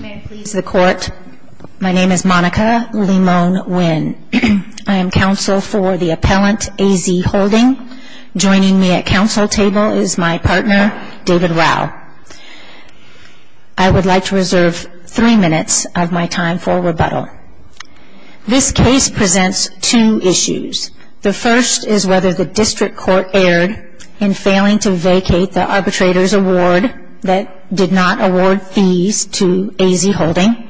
May it please the Court, my name is Monica Limon-Winn. I am counsel for the Appellant AZ Holding. Joining me at counsel table is my partner, David Rau. I would like to reserve three minutes of my time for rebuttal. This case presents two issues. The first is whether the District Court erred in failing to vacate the Arbitrator's Award that did not award fees to AZ Holding.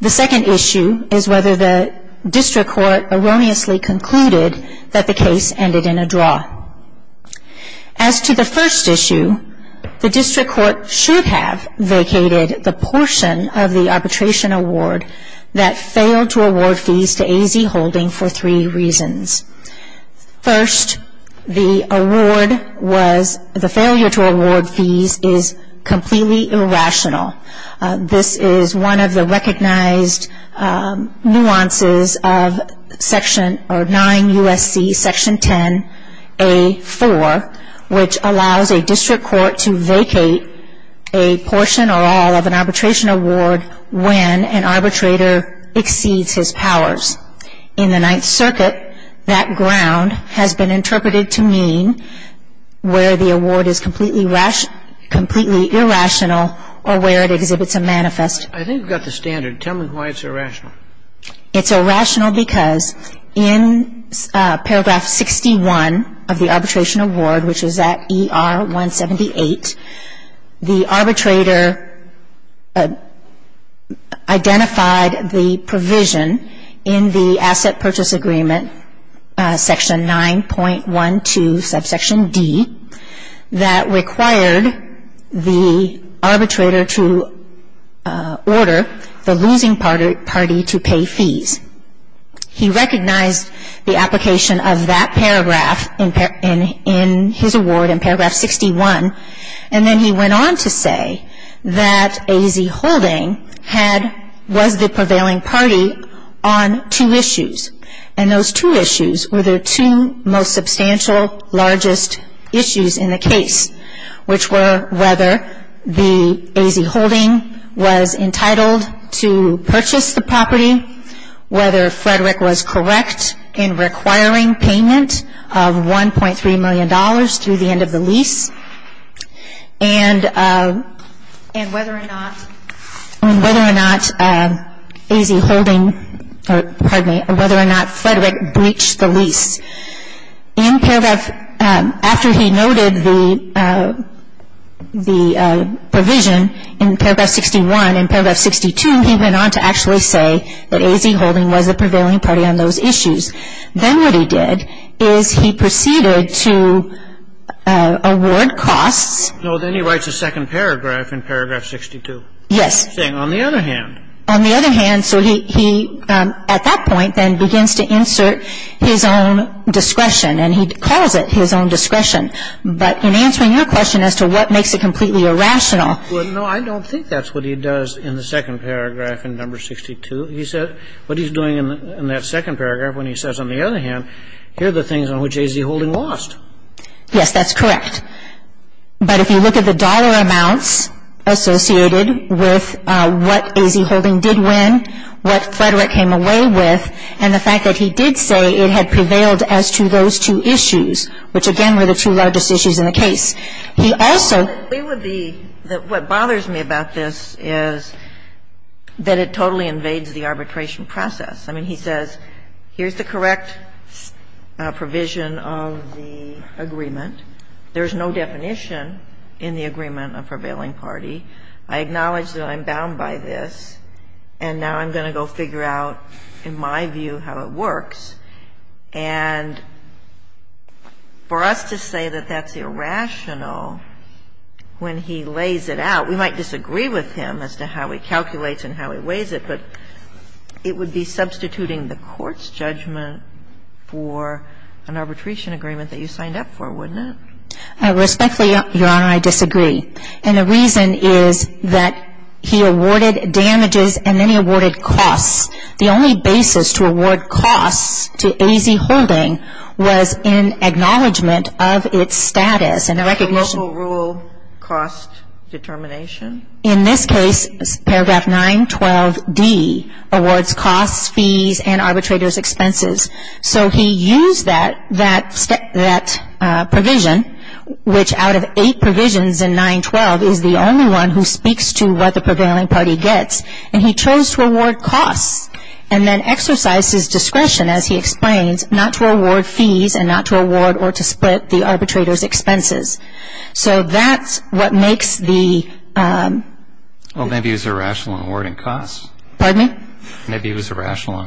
The second issue is whether the District Court erroneously concluded that the case ended in a draw. As to the first issue, the District Court should have vacated the portion of the Arbitration Award that failed to award fees to AZ Holding for three reasons. First, the failure to award fees is completely irrational. This is one of the recognized nuances of 9 U.S.C. Section 10a.4, which allows a District Court to vacate a portion or all of an Arbitration Award when an arbitrator exceeds his powers. In the 9th Circuit, that ground has been interpreted to mean where the award is completely irrational or where it exhibits a manifest. I think we've got the standard. Tell me why it's irrational. It's irrational because in paragraph 61 of the Arbitration Award, which is at ER 178, the arbitrator identified the provision in the Asset Purchase Agreement, Section 9.12, subsection D, that required the arbitrator to order the losing party to pay fees. He recognized the application of that paragraph in his award in paragraph 61, and then he went on to say that AZ Holding was the prevailing party on two issues. And those two issues were the two most substantial, largest issues in the case, which were whether the AZ Holding was entitled to purchase the property, whether Frederick was correct in requiring payment of $1.3 million through the end of the lease, and whether or not AZ Holding or, pardon me, whether or not Frederick breached the lease. In paragraph, after he noted the provision in paragraph 61, in paragraph 62, he went on to actually say that AZ Holding was the prevailing party on those issues. Then what he did is he proceeded to award costs. No, then he writes a second paragraph in paragraph 62. Yes. Saying, on the other hand. On the other hand, so he at that point then begins to insert his own discretion, and he calls it his own discretion. But in answering your question as to what makes it completely irrational. Well, no, I don't think that's what he does in the second paragraph in number 62. He said what he's doing in that second paragraph when he says, on the other hand, here are the things on which AZ Holding lost. Yes, that's correct. But if you look at the dollar amounts associated with what AZ Holding did win, what Frederick came away with, and the fact that he did say it had prevailed as to those two issues, which, again, were the two largest issues in the case. He also. What bothers me about this is that it totally invades the arbitration process. I mean, he says, here's the correct provision of the agreement. There's no definition in the agreement of prevailing party. I acknowledge that I'm bound by this, and now I'm going to go figure out, in my view, how it works. And for us to say that that's irrational when he lays it out, we might disagree with him as to how he calculates and how he weighs it, but it would be substituting the Court's judgment for an arbitration agreement that you signed up for, wouldn't it? Respectfully, Your Honor, I disagree. And the reason is that he awarded damages and then he awarded costs. The only basis to award costs to AZ Holding was in acknowledgment of its status and the recognition. Local rule cost determination. In this case, paragraph 912D awards costs, fees, and arbitrators' expenses. So he used that provision, which out of eight provisions in 912 is the only one who speaks to what the prevailing party gets, and he chose to award costs and then exercise his discretion, as he explains, not to award fees and not to award or to split the arbitrators' expenses. So that's what makes the — Well, maybe he was irrational in awarding costs. Pardon me? Maybe he was irrational in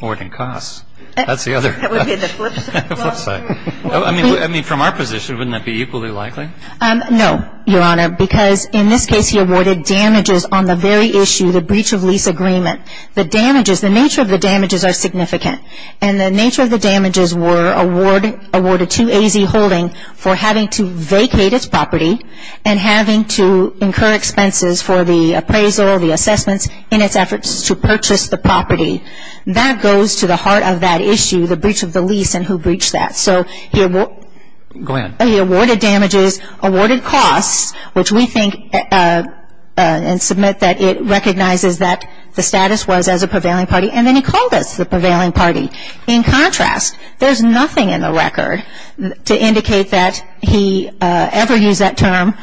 awarding costs. That's the other — That would be the flip side. The flip side. I mean, from our position, wouldn't that be equally likely? No, Your Honor, because in this case he awarded damages on the very issue, the breach of lease agreement. The damages, the nature of the damages are significant. And the nature of the damages were awarded to AZ Holding for having to vacate its property and having to incur expenses for the appraisal, the assessments, in its efforts to purchase the property. That goes to the heart of that issue, the breach of the lease and who breached that. So he — Go ahead. He awarded damages, awarded costs, which we think and submit that it recognizes that the status was as a prevailing party. And then he called us the prevailing party. In contrast, there's nothing in the record to indicate that he ever used that term,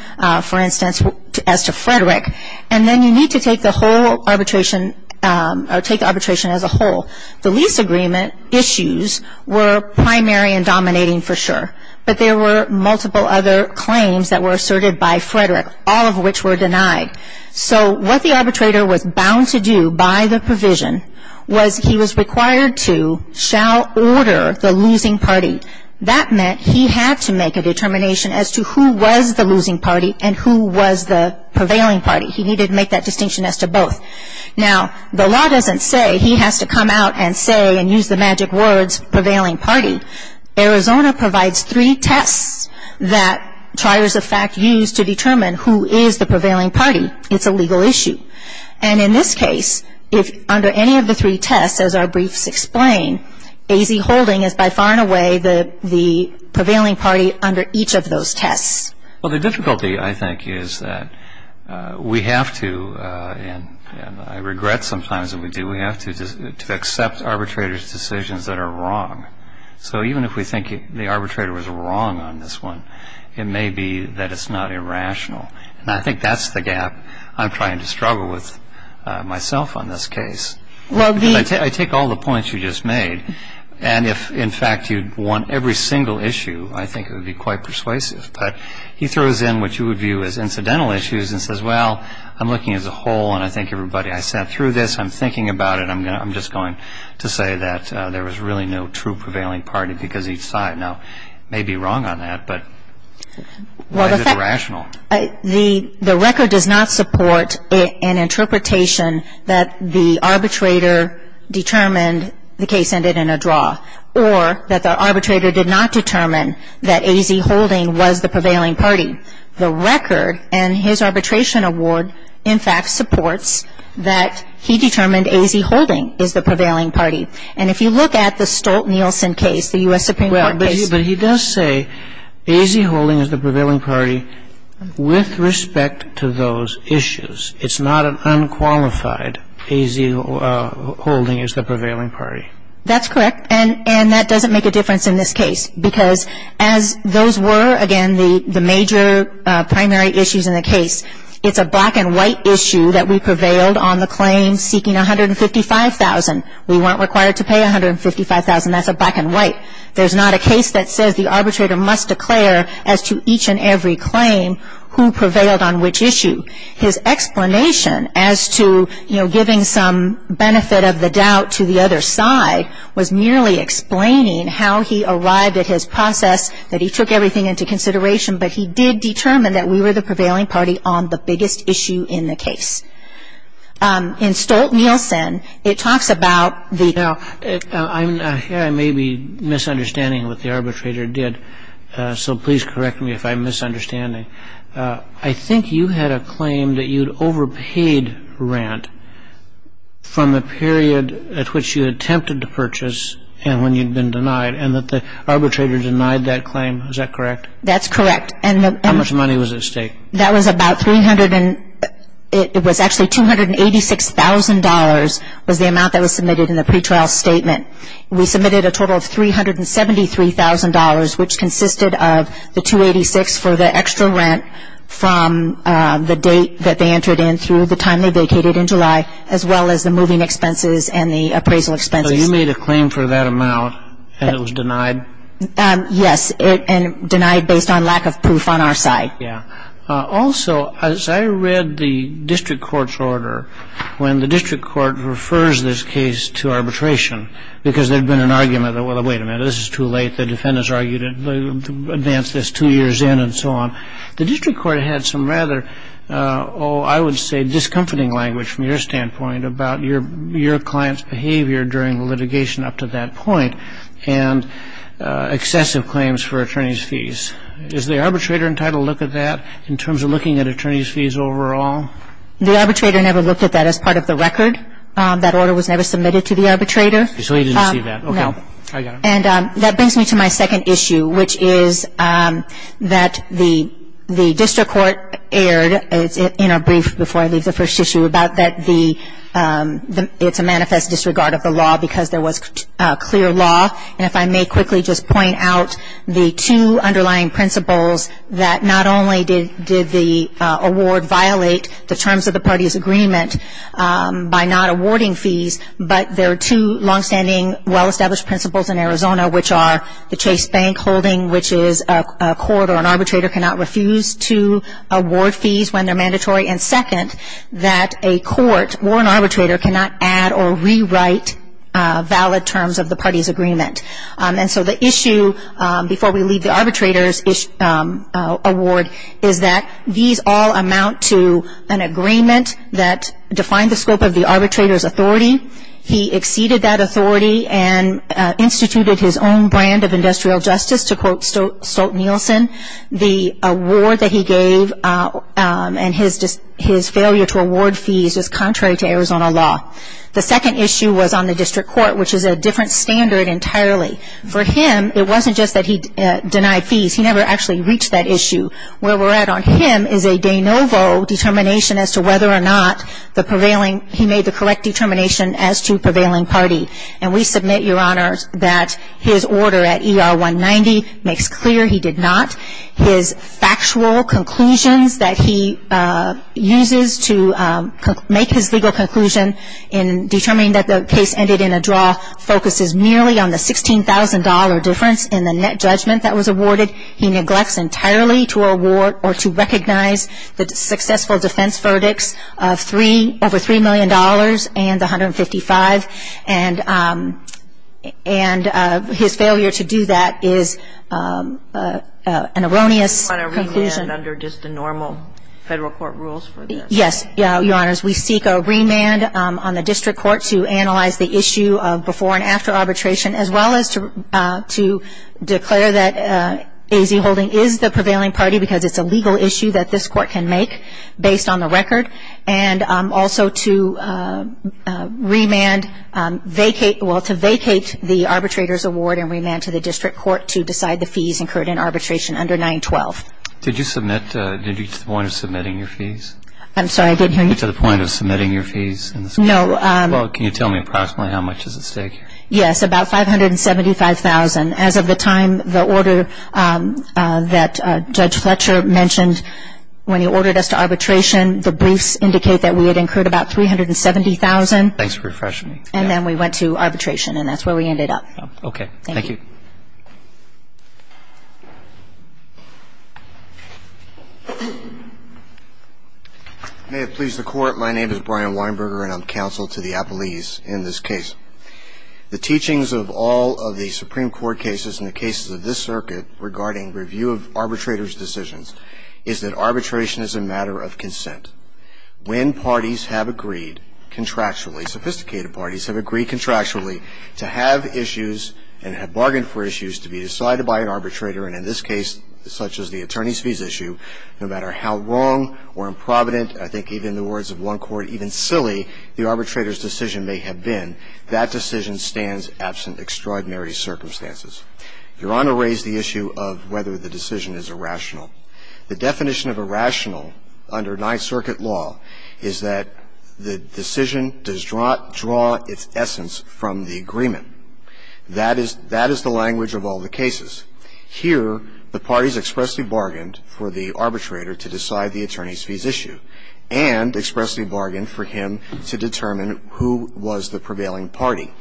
for instance, as to Frederick. And then you need to take the whole arbitration or take arbitration as a whole. The lease agreement issues were primary and dominating for sure. But there were multiple other claims that were asserted by Frederick, all of which were denied. So what the arbitrator was bound to do by the provision was he was required to shall order the losing party. That meant he had to make a determination as to who was the losing party and who was the prevailing party. He needed to make that distinction as to both. Now, the law doesn't say he has to come out and say and use the magic words prevailing party. Arizona provides three tests that triers of fact use to determine who is the prevailing party. It's a legal issue. And in this case, under any of the three tests, as our briefs explain, AZ-Holding is by far and away the prevailing party under each of those tests. Well, the difficulty, I think, is that we have to — and I regret sometimes that we do — we have to accept arbitrators' decisions that are wrong. So even if we think the arbitrator was wrong on this one, it may be that it's not irrational. And I think that's the gap I'm trying to struggle with myself on this case. Well, the — I take all the points you just made. And if, in fact, you'd want every single issue, I think it would be quite persuasive. But he throws in what you would view as incidental issues and says, well, I'm looking at the whole. And I think everybody — I sat through this. I'm thinking about it. And I'm just going to say that there was really no true prevailing party because he saw it. Now, he may be wrong on that, but why is it irrational? The record does not support an interpretation that the arbitrator determined the case ended in a draw or that the arbitrator did not determine that AZ-Holding was the prevailing party. The record and his arbitration award, in fact, supports that he determined AZ-Holding is the prevailing party. And if you look at the Stolt-Nielsen case, the U.S. Supreme Court case — Well, but he does say AZ-Holding is the prevailing party with respect to those issues. It's not an unqualified AZ-Holding is the prevailing party. That's correct. And that doesn't make a difference in this case. Because as those were, again, the major primary issues in the case, it's a black-and-white issue that we prevailed on the claim seeking $155,000. We weren't required to pay $155,000. That's a black-and-white. There's not a case that says the arbitrator must declare as to each and every claim who prevailed on which issue. His explanation as to, you know, giving some benefit of the doubt to the other side was merely explaining how he arrived at his process, that he took everything into consideration, but he did determine that we were the prevailing party on the biggest issue in the case. In Stolt-Nielsen, it talks about the — Now, here I may be misunderstanding what the arbitrator did. So please correct me if I'm misunderstanding. I think you had a claim that you'd overpaid rent from the period at which you attempted to purchase and when you'd been denied, and that the arbitrator denied that claim. Is that correct? That's correct. And the — How much money was at stake? That was about — it was actually $286,000 was the amount that was submitted in the pretrial statement. We submitted a total of $373,000, which consisted of the $286,000 for the extra rent from the date that they entered in through the time they vacated in July, as well as the moving expenses and the appraisal expenses. So you made a claim for that amount, and it was denied? Yes, and denied based on lack of proof on our side. Yeah. And the attorney's fees, the general attorney's fees, is a whole other issue. I mean, the fact that the district court had some rather, oh, I would say discomforting language from your standpoint about your client's behavior during the litigation up to that point and excessive claims for attorney's fees. Is the arbitrator entitled to look at that in terms of looking at attorney's fees overall? No. The arbitrator never looked at that as part of the record. That order was never submitted to the arbitrator. So he didn't see that. No. Okay. I got it. And that brings me to my second issue, which is that the district court aired in a brief before I leave the first issue about that it's a manifest disregard of the law because there was clear law. And if I may quickly just point out the two underlying principles that not only did the award violate the terms of the party's agreement by not awarding fees, but there are two longstanding well-established principles in Arizona, which are the Chase Bank holding, which is a court or an arbitrator cannot refuse to award fees when they're mandatory. And second, that a court or an arbitrator cannot add or rewrite valid terms of the party's agreement. And so the issue before we leave the arbitrator's award is that these all amount to an agreement that defined the scope of the arbitrator's authority. He exceeded that authority and instituted his own brand of industrial justice to quote Stolt-Nielsen. The award that he gave and his failure to award fees is contrary to Arizona law. The second issue was on the district court, which is a different standard entirely. For him, it wasn't just that he denied fees. He never actually reached that issue. Where we're at on him is a de novo determination as to whether or not the prevailing he made the correct determination as to prevailing party. And we submit, Your Honor, that his order at ER 190 makes clear he did not. His factual conclusions that he uses to make his legal conclusion in determining that the case ended in a draw focuses merely on the $16,000 difference in the net judgment that was awarded. He neglects entirely to award or to recognize the successful defense verdicts of over $3 million and 155. And his failure to do that is an erroneous conclusion. You want to remand under just the normal federal court rules for this? Yes, Your Honors. We seek a remand on the district court to analyze the issue of before and after arbitration, as well as to declare that A.Z. Holding is the prevailing party because it's a legal issue that this court can make based on the record, and also to remand, well, to vacate the arbitrator's award and remand to the district court to decide the fees incurred in arbitration under 912. Did you get to the point of submitting your fees? I'm sorry, I didn't hear you. Did you get to the point of submitting your fees? No. Well, can you tell me approximately how much is at stake here? Yes, about $575,000. As of the time the order that Judge Fletcher mentioned when he ordered us to arbitration, the briefs indicate that we had incurred about $370,000. Thanks for refreshing me. And then we went to arbitration, and that's where we ended up. Okay. Thank you. May it please the Court. My name is Brian Weinberger, and I'm counsel to the appellees in this case. The teachings of all of the Supreme Court cases and the cases of this circuit regarding review of arbitrator's decisions is that arbitration is a matter of consent. When parties have agreed contractually, sophisticated parties have agreed contractually to have issues and have bargained for issues to be decided by an arbitrator, and in this case, such as the attorney's fees issue, no matter how wrong or improvident, I think even in the words of one court, even silly the arbitrator's decision may have been, that decision stands absent extraordinary circumstances. Your Honor raised the issue of whether the decision is irrational. The definition of irrational under Ninth Circuit law is that the decision does draw its essence from the agreement. That is the language of all the cases. Here, the parties expressly bargained for the arbitrator to decide the attorney's fees issue and expressly bargained for him to determine who was the prevailing party.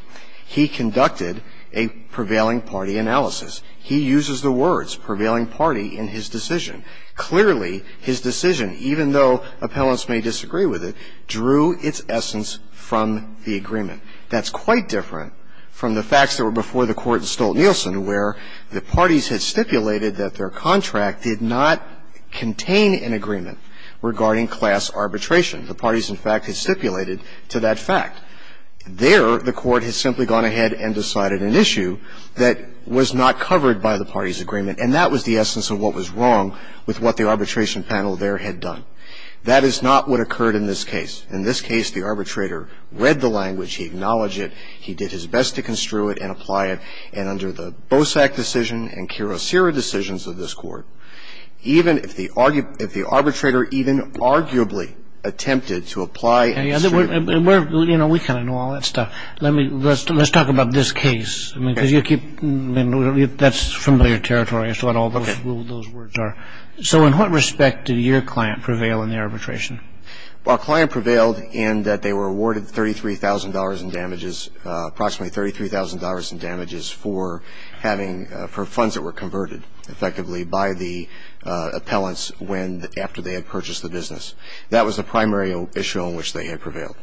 He conducted a prevailing party analysis. He uses the words prevailing party in his decision. Clearly, his decision, even though appellants may disagree with it, drew its essence from the agreement. That's quite different from the facts that were before the Court in Stolt-Nielsen, where the parties had stipulated that their contract did not contain an agreement regarding class arbitration. The parties, in fact, had stipulated to that fact. There, the Court has simply gone ahead and decided an issue that was not covered by the parties' agreement, and that was the essence of what was wrong with what the arbitration panel there had done. That is not what occurred in this case. In this case, the arbitrator read the language. He acknowledged it. He did his best to construe it and apply it. And under the Bosak decision and Kurosera decisions of this Court, even if the arbitrator even arguably attempted to apply and construe it. We kind of know all that stuff. Let's talk about this case. That's familiar territory as to what all those words are. So in what respect did your client prevail in the arbitration? Well, a client prevailed in that they were awarded $33,000 in damages, approximately $33,000 in damages for funds that were converted, effectively, by the appellants after they had purchased the business. That was the primary issue on which they had prevailed.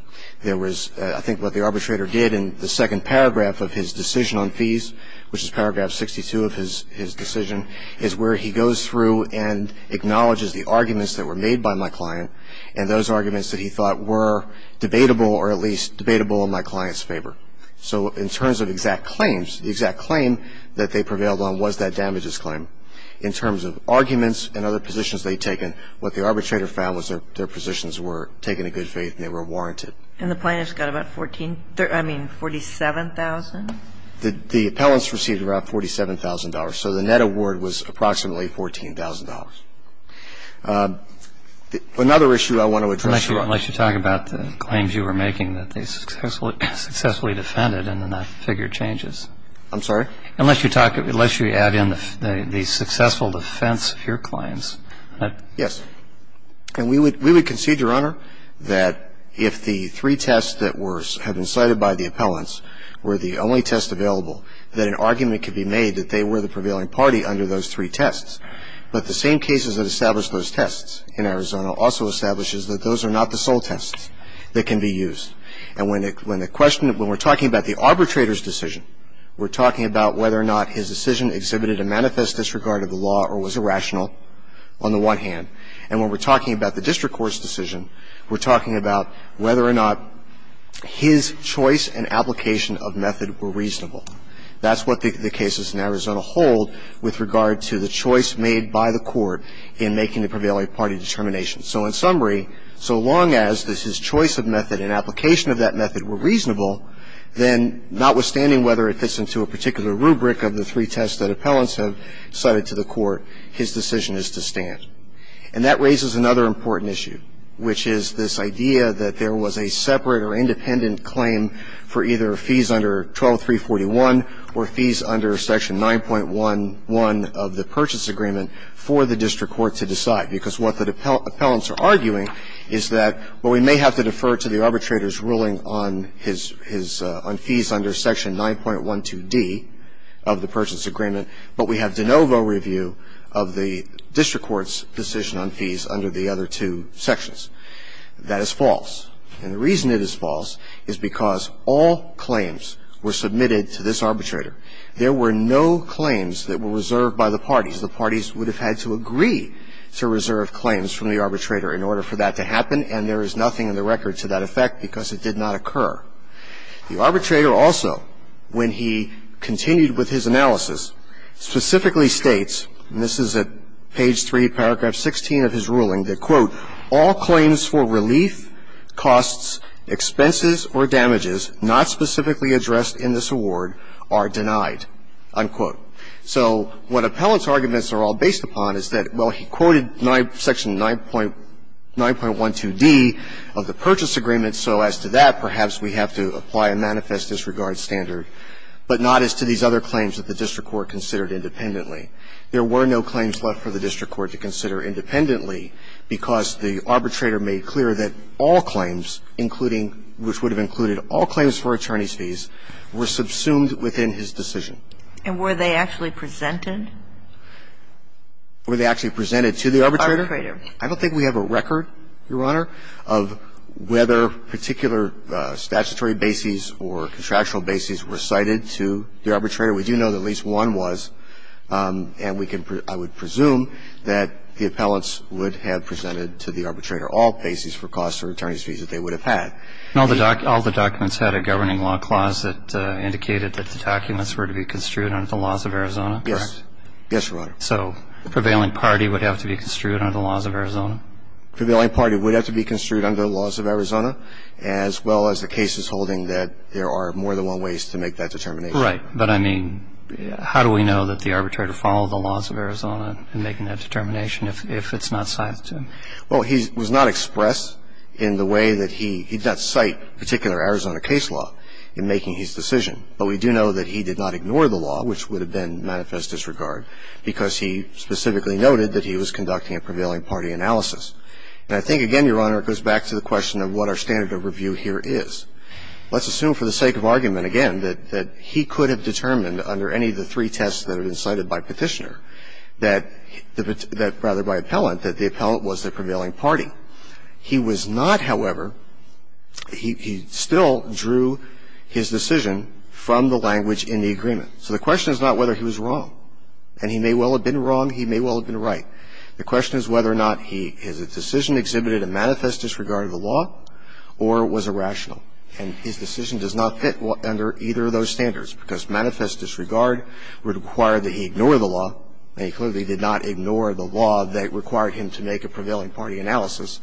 There was, I think, what the arbitrator did in the second paragraph of his decision on fees, which is paragraph 62 of his decision, is where he goes through and acknowledges the arguments that were made by my client and those arguments that he thought were debatable or at least debatable in my client's favor. So in terms of exact claims, the exact claim that they prevailed on was that damages claim. In terms of arguments and other positions they'd taken, what the arbitrator found was their positions were taken in good faith and they were warranted. And the plaintiffs got about $47,000? The appellants received about $47,000. So the net award was approximately $14,000. Another issue I want to address. Unless you talk about the claims you were making that they successfully defended and then that figure changes. I'm sorry? Unless you add in the successful defense of your claims. Yes. And we would concede, Your Honor, that if the three tests that were cited by the appellants were the only tests available, that an argument could be made that they were the prevailing party under those three tests. But the same cases that established those tests in Arizona also establishes that those are not the sole tests that can be used. And when the question of when we're talking about the arbitrator's decision, we're talking about whether or not his decision exhibited a manifest disregard of the law or was irrational on the one hand. And when we're talking about the district court's decision, we're talking about whether or not his choice and application of method were reasonable. That's what the cases in Arizona hold with regard to the choice made by the court in making the prevailing party determination. So in summary, so long as his choice of method and application of that method were reasonable, then notwithstanding whether it fits into a particular rubric of the three tests that appellants have cited to the court, his decision is to stand. And that raises another important issue, which is this idea that there was a separate or independent claim for either fees under 12341 or fees under Section 9.11 of the Purchase Agreement for the district court to decide, because what the appellants are arguing is that while we may have to defer to the arbitrator's ruling on his on fees under Section 9.12d of the Purchase Agreement, but we have de novo review of the district court's decision on fees under the other two sections. That is false. And the reason it is false is because all claims were submitted to this arbitrator. There were no claims that were reserved by the parties. The parties would have had to agree to reserve claims from the arbitrator in order for that to happen, and there is nothing in the record to that effect because it did not occur. The arbitrator also, when he continued with his analysis, specifically states, and this is at page 3, paragraph 16 of his ruling, that, quote, all claims for relief, costs, expenses or damages not specifically addressed in this award are denied, unquote. So what appellants' arguments are all based upon is that, well, he quoted Section 9.12d of the Purchase Agreement, so as to that, perhaps we have to apply a manifest disregard standard, but not as to these other claims that the district court considered independently. There were no claims left for the district court to consider independently because the arbitrator made clear that all claims, including which would have included all claims for attorney's fees, were subsumed within his decision. And were they actually presented? Were they actually presented to the arbitrator? Arbitrator. I don't think we have a record, Your Honor, of whether particular statutory bases or contractual bases were cited to the arbitrator. We do know that at least one was. And we can, I would presume that the appellants would have presented to the arbitrator all bases for costs or attorney's fees that they would have had. All the documents had a governing law clause that indicated that the documents were to be construed under the laws of Arizona, correct? Yes, Your Honor. So the prevailing party would have to be construed under the laws of Arizona? The prevailing party would have to be construed under the laws of Arizona, as well as the cases holding that there are more than one ways to make that determination. Right. But, I mean, how do we know that the arbitrator followed the laws of Arizona in making that determination if it's not cited to him? Well, he was not expressed in the way that he, he did not cite particular Arizona case law in making his decision. But we do know that he did not ignore the law, which would have been manifest disregard, because he specifically noted that he was conducting a prevailing party analysis. And I think, again, Your Honor, it goes back to the question of what our standard of review here is. Let's assume for the sake of argument, again, that he could have determined under any of the three tests that have been cited by Petitioner that the, rather by appellant, that the appellant was the prevailing party. He was not, however, he still drew his decision from the language in the agreement. So the question is not whether he was wrong. And he may well have been wrong. He may well have been right. The question is whether or not he, his decision exhibited a manifest disregard of the law or was irrational. And his decision does not fit under either of those standards, because manifest disregard would require that he ignore the law, and he clearly did not ignore the So the question is whether or not he was wrong in the analysis.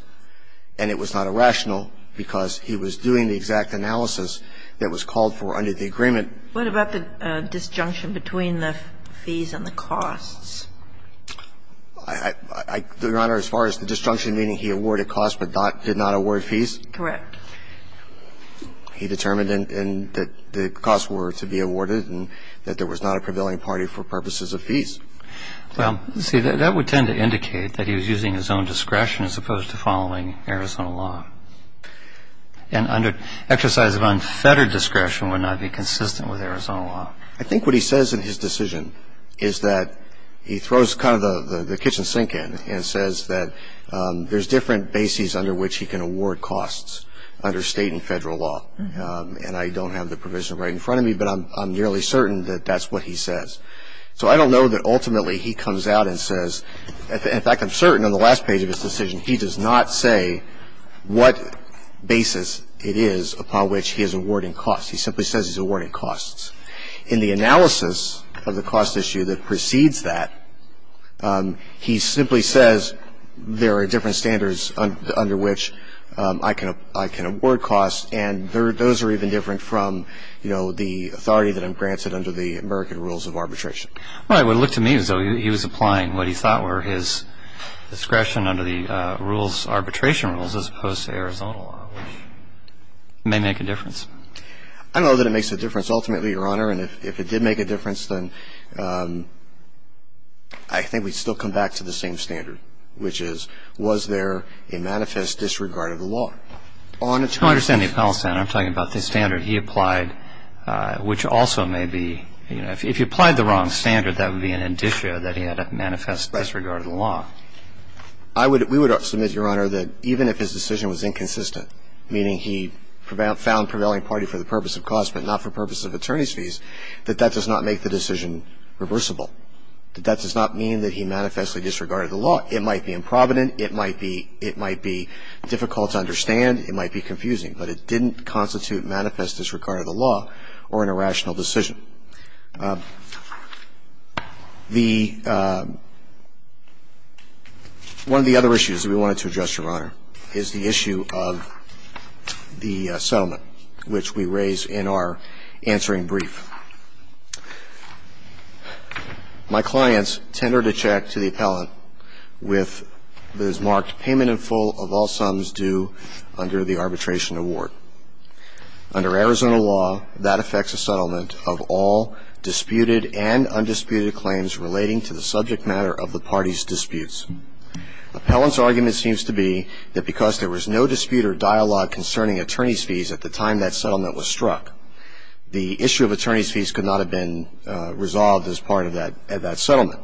And it was not irrational, because he was doing the exact analysis that was called for under the agreement. What about the disjunction between the fees and the costs? I do, Your Honor, as far as the disjunction meaning he awarded costs but did not award fees? Correct. He determined that the costs were to be awarded and that there was not a prevailing party for purposes of fees. Well, see, that would tend to indicate that he was using his own discretion as opposed to following Arizona law. And exercise of unfettered discretion would not be consistent with Arizona law. I think what he says in his decision is that he throws kind of the kitchen sink in and says that there's different bases under which he can award costs under state and federal law. And I don't have the provision right in front of me, but I'm nearly certain that that's what he says. So I don't know that ultimately he comes out and says – in fact, I'm certain on the last page of his decision he does not say what basis it is upon which he is awarding costs. He simply says he's awarding costs. In the analysis of the cost issue that precedes that, he simply says there are different standards under which I can award costs, and those are even different from, you know, the authority that I'm granted under the American rules of arbitration. Well, it would look to me as though he was applying what he thought were his discretion under the rules – arbitration rules as opposed to Arizona law, which may make a difference. I don't know that it makes a difference ultimately, Your Honor. And if it did make a difference, then I think we'd still come back to the same standard, which is was there a manifest disregard of the law? I don't understand the appellate standard. I'm talking about the standard he applied, which also may be – you know, if he applied the wrong standard, that would be an indicia that he had a manifest disregard of the law. Right. We would submit, Your Honor, that even if his decision was inconsistent, meaning he found prevailing party for the purpose of cost but not for purposes of attorney's fees, that that does not make the decision reversible, that that does not mean that he manifestly disregarded the law. It might be improvident. It might be – it might be difficult to understand. It might be confusing. But it didn't constitute manifest disregard of the law or an irrational decision. The – one of the other issues that we wanted to address, Your Honor, is the issue of the settlement, which we raise in our answering brief. My clients tendered a check to the appellant with – that is marked payment in full of all sums due under the arbitration award. Under Arizona law, that affects a settlement of all disputed and undisputed claims relating to the subject matter of the party's disputes. Appellant's argument seems to be that because there was no dispute or dialogue concerning attorney's fees at the time that settlement was struck, the issue of attorney's fees could not have been resolved as part of that – of that settlement.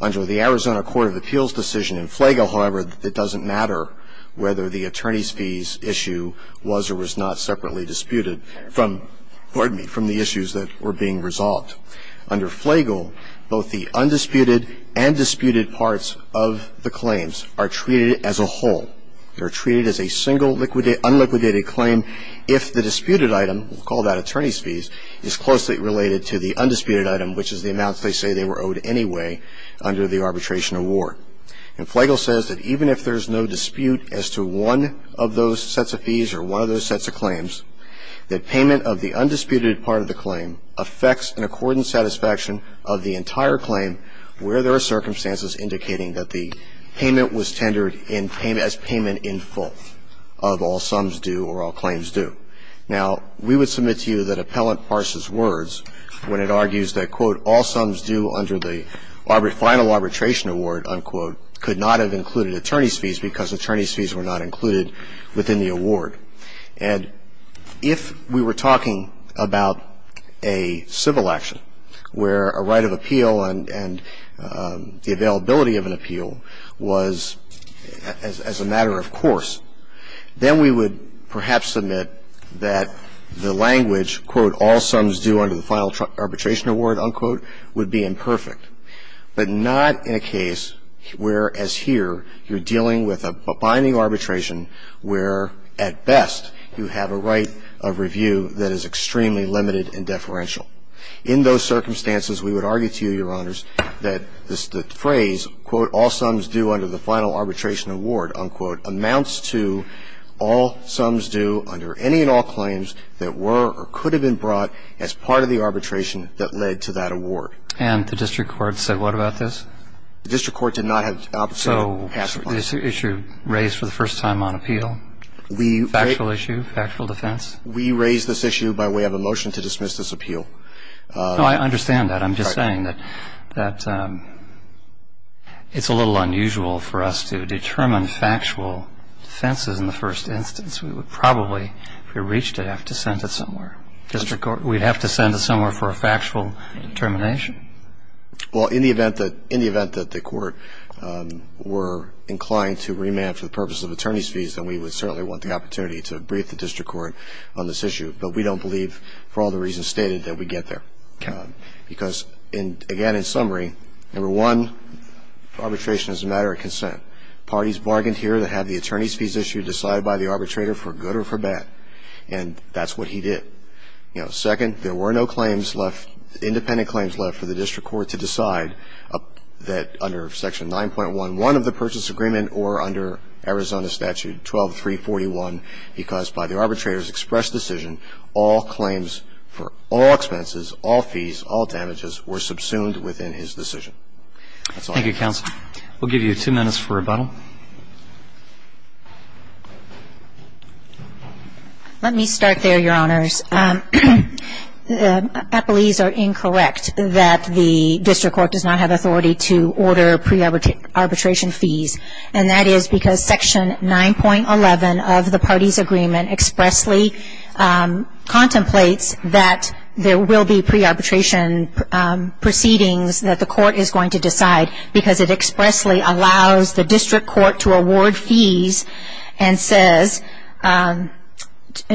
Under the Arizona court of appeals decision in Flagle, however, it doesn't matter whether the attorney's fees issue was or was not separately disputed from – pardon me – from the issues that were being resolved. Under Flagle, both the undisputed and disputed parts of the claims are treated as a whole. They are treated as a single unliquidated claim if the disputed item, we'll call that attorney's fees, is closely related to the undisputed item, which is the amounts they say they were owed anyway under the arbitration award. And Flagle says that even if there's no dispute as to one of those sets of fees or one of those sets of claims, that payment of the undisputed part of the claim affects an accordant satisfaction of the entire claim where there are circumstances indicating that the payment was tendered in – as payment in full of all sums due or all claims due. Now, we would submit to you that appellant parses words when it argues that, quote, all sums due under the final arbitration award, unquote, could not have included attorney's fees because attorney's fees were not included within the award. And if we were talking about a civil action where a right of appeal and the availability of an appeal was as a matter of course, then we would perhaps submit that the appeal would be imperfect, that the language, quote, all sums due under the final arbitration award, unquote, would be imperfect, but not in a case where, as here, you're dealing with a binding arbitration where at best you have a right of review that is extremely limited and deferential. In those circumstances, we would argue to you, Your Honors, that the phrase, quote, all sums due under the final arbitration award, unquote, amounts to all sums due under any and all claims that were or could have been brought as part of the arbitration that led to that award. And the district court said what about this? The district court did not have the opportunity to pass it. So this issue raised for the first time on appeal, factual issue, factual defense? We raised this issue by way of a motion to dismiss this appeal. No, I understand that. I'm just saying that it's a little unusual for us to determine factual offenses in the first instance. We would probably, if we reached it, have to send it somewhere. District court, we'd have to send it somewhere for a factual determination? Well, in the event that the court were inclined to remand for the purpose of attorney's fees, then we would certainly want the opportunity to brief the district court on this issue. But we don't believe, for all the reasons stated, that we'd get there. Because, again, in summary, number one, arbitration is a matter of consent. Parties bargained here to have the attorney's fees issue decided by the arbitrator for good or for bad. And that's what he did. Second, there were no claims left, independent claims left for the district court to decide that under Section 9.11 of the Purchase Agreement or under Arizona Statute 12341, because by the arbitrator's expressed decision, all claims for all expenses, all fees, all damages were subsumed within his decision. That's all. Thank you, counsel. We'll give you two minutes for rebuttal. Let me start there, Your Honors. Appellees are incorrect that the district court does not have authority to order pre-arbitration fees. And that is because Section 9.11 of the parties' agreement expressly contemplates that there will be pre-arbitration proceedings that the court is going to decide, because it expressly allows the district court to award fees and says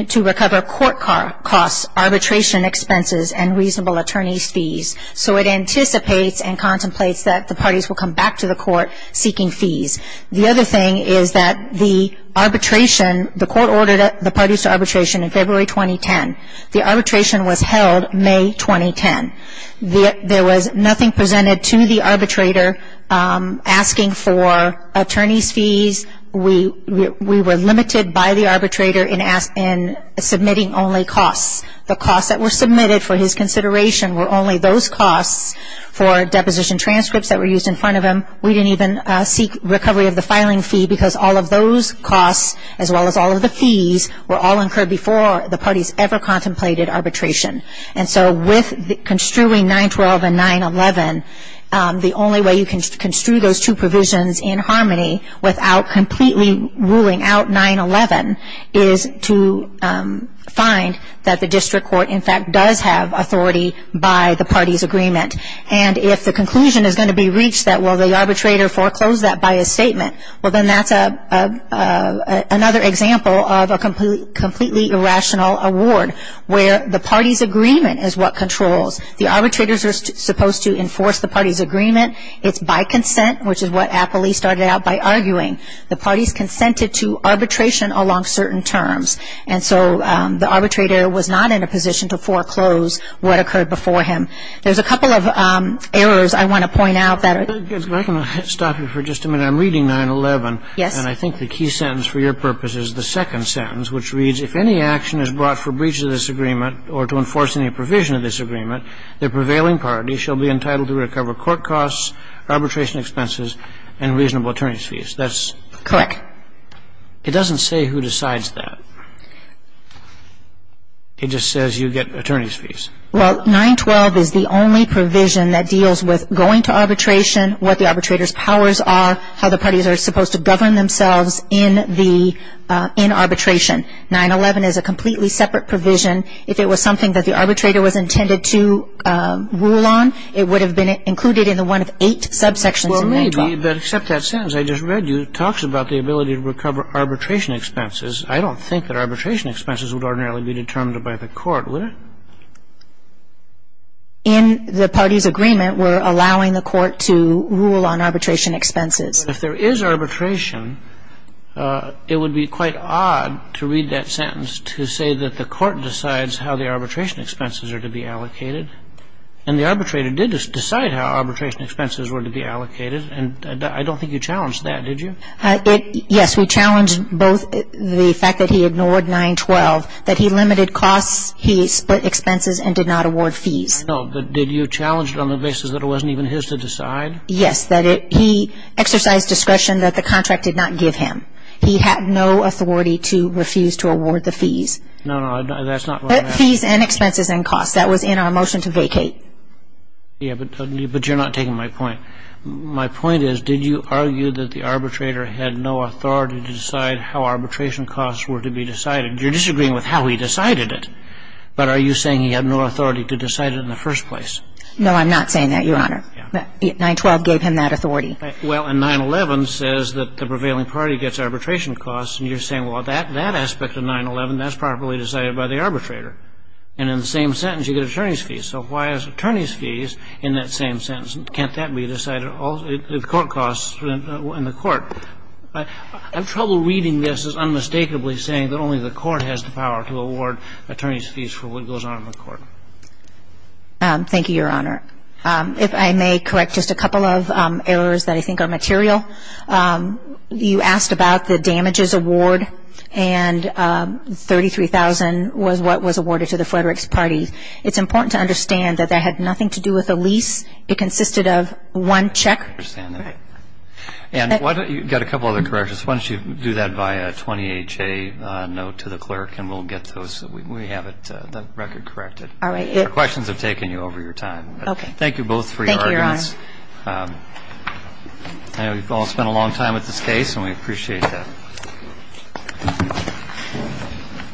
to recover court costs, arbitration expenses, and reasonable attorney's fees. So it anticipates and contemplates that the parties will come back to the court seeking fees. The other thing is that the arbitration, the court ordered the parties to arbitration in February 2010. The arbitration was held May 2010. There was nothing presented to the arbitrator asking for attorney's fees. We were limited by the arbitrator in submitting only costs. The costs that were submitted for his consideration were only those costs for deposition transcripts that were used in front of him. We didn't even seek recovery of the filing fee, because all of those costs, as well as all of the fees, were all incurred before the parties ever contemplated arbitration. And so with construing 9.12 and 9.11, the only way you can construe those two provisions in harmony without completely ruling out 9.11 is to find that the district court, in fact, does have authority by the parties' agreement. And if the conclusion is going to be reached that, well, the arbitrator foreclosed that by his statement, well, then that's another example of a completely irrational award, where the parties' agreement is what controls. The arbitrators are supposed to enforce the parties' agreement. It's by consent, which is what Appley started out by arguing. The parties consented to arbitration along certain terms. And so the arbitrator was not in a position to foreclose what occurred before him. There's a couple of errors I want to point out that are ‑‑ Can I stop you for just a minute? I'm reading 9.11. Yes. And I think the key sentence for your purpose is the second sentence, which reads, if any action is brought for breach of this agreement or to enforce any provision of this agreement, the prevailing party shall be entitled to recover court costs, arbitration expenses, and reasonable attorney's fees. That's ‑‑ Correct. It doesn't say who decides that. It just says you get attorney's fees. Well, 9.12 is the only provision that deals with going to arbitration, what the arbitrator's powers are, how the parties are supposed to govern themselves in the ‑‑ in arbitration. 9.11 is a completely separate provision. If it was something that the arbitrator was intended to rule on, it would have been included in the one of eight subsections in 9.12. Well, maybe, but except that sentence I just read you, it talks about the ability to recover arbitration expenses. I don't think that arbitration expenses would ordinarily be determined by the court, would it? In the party's agreement, we're allowing the court to rule on arbitration expenses. But if there is arbitration, it would be quite odd to read that sentence to say that the court decides how the arbitration expenses are to be allocated. And the arbitrator did decide how arbitration expenses were to be allocated, and I don't think you challenged that, did you? Yes, we challenged both the fact that he ignored 9.12, that he limited costs, he split expenses, and did not award fees. I know, but did you challenge it on the basis that it wasn't even his to decide? Yes, that he exercised discretion that the contract did not give him. He had no authority to refuse to award the fees. No, no, that's not what I meant. Fees and expenses and costs. That was in our motion to vacate. Yeah, but you're not taking my point. My point is, did you argue that the arbitrator had no authority to decide how arbitration costs were to be decided? You're disagreeing with how he decided it, but are you saying he had no authority to decide it in the first place? No, I'm not saying that, Your Honor. 9.12 gave him that authority. Well, and 9.11 says that the prevailing party gets arbitration costs, and you're saying, well, that aspect of 9.11, that's properly decided by the arbitrator. And in the same sentence, you get attorney's fees. So why is attorney's fees in that same sentence? Can't that be decided in the court? I have trouble reading this as unmistakably saying that only the court has the power to award attorney's fees for what goes on in the court. Thank you, Your Honor. If I may correct just a couple of errors that I think are material. You asked about the damages award, and $33,000 was what was awarded to the Frederick's party. It's important to understand that that had nothing to do with a lease. It consisted of one check. I understand that. And you've got a couple other corrections. Why don't you do that via 20HA note to the clerk, and we'll get those. We have it, the record corrected. All right. Questions have taken you over your time. Okay. Thank you both for your arguments. Thank you, Your Honor. I know you've all spent a long time with this case, and we appreciate that. Thank you.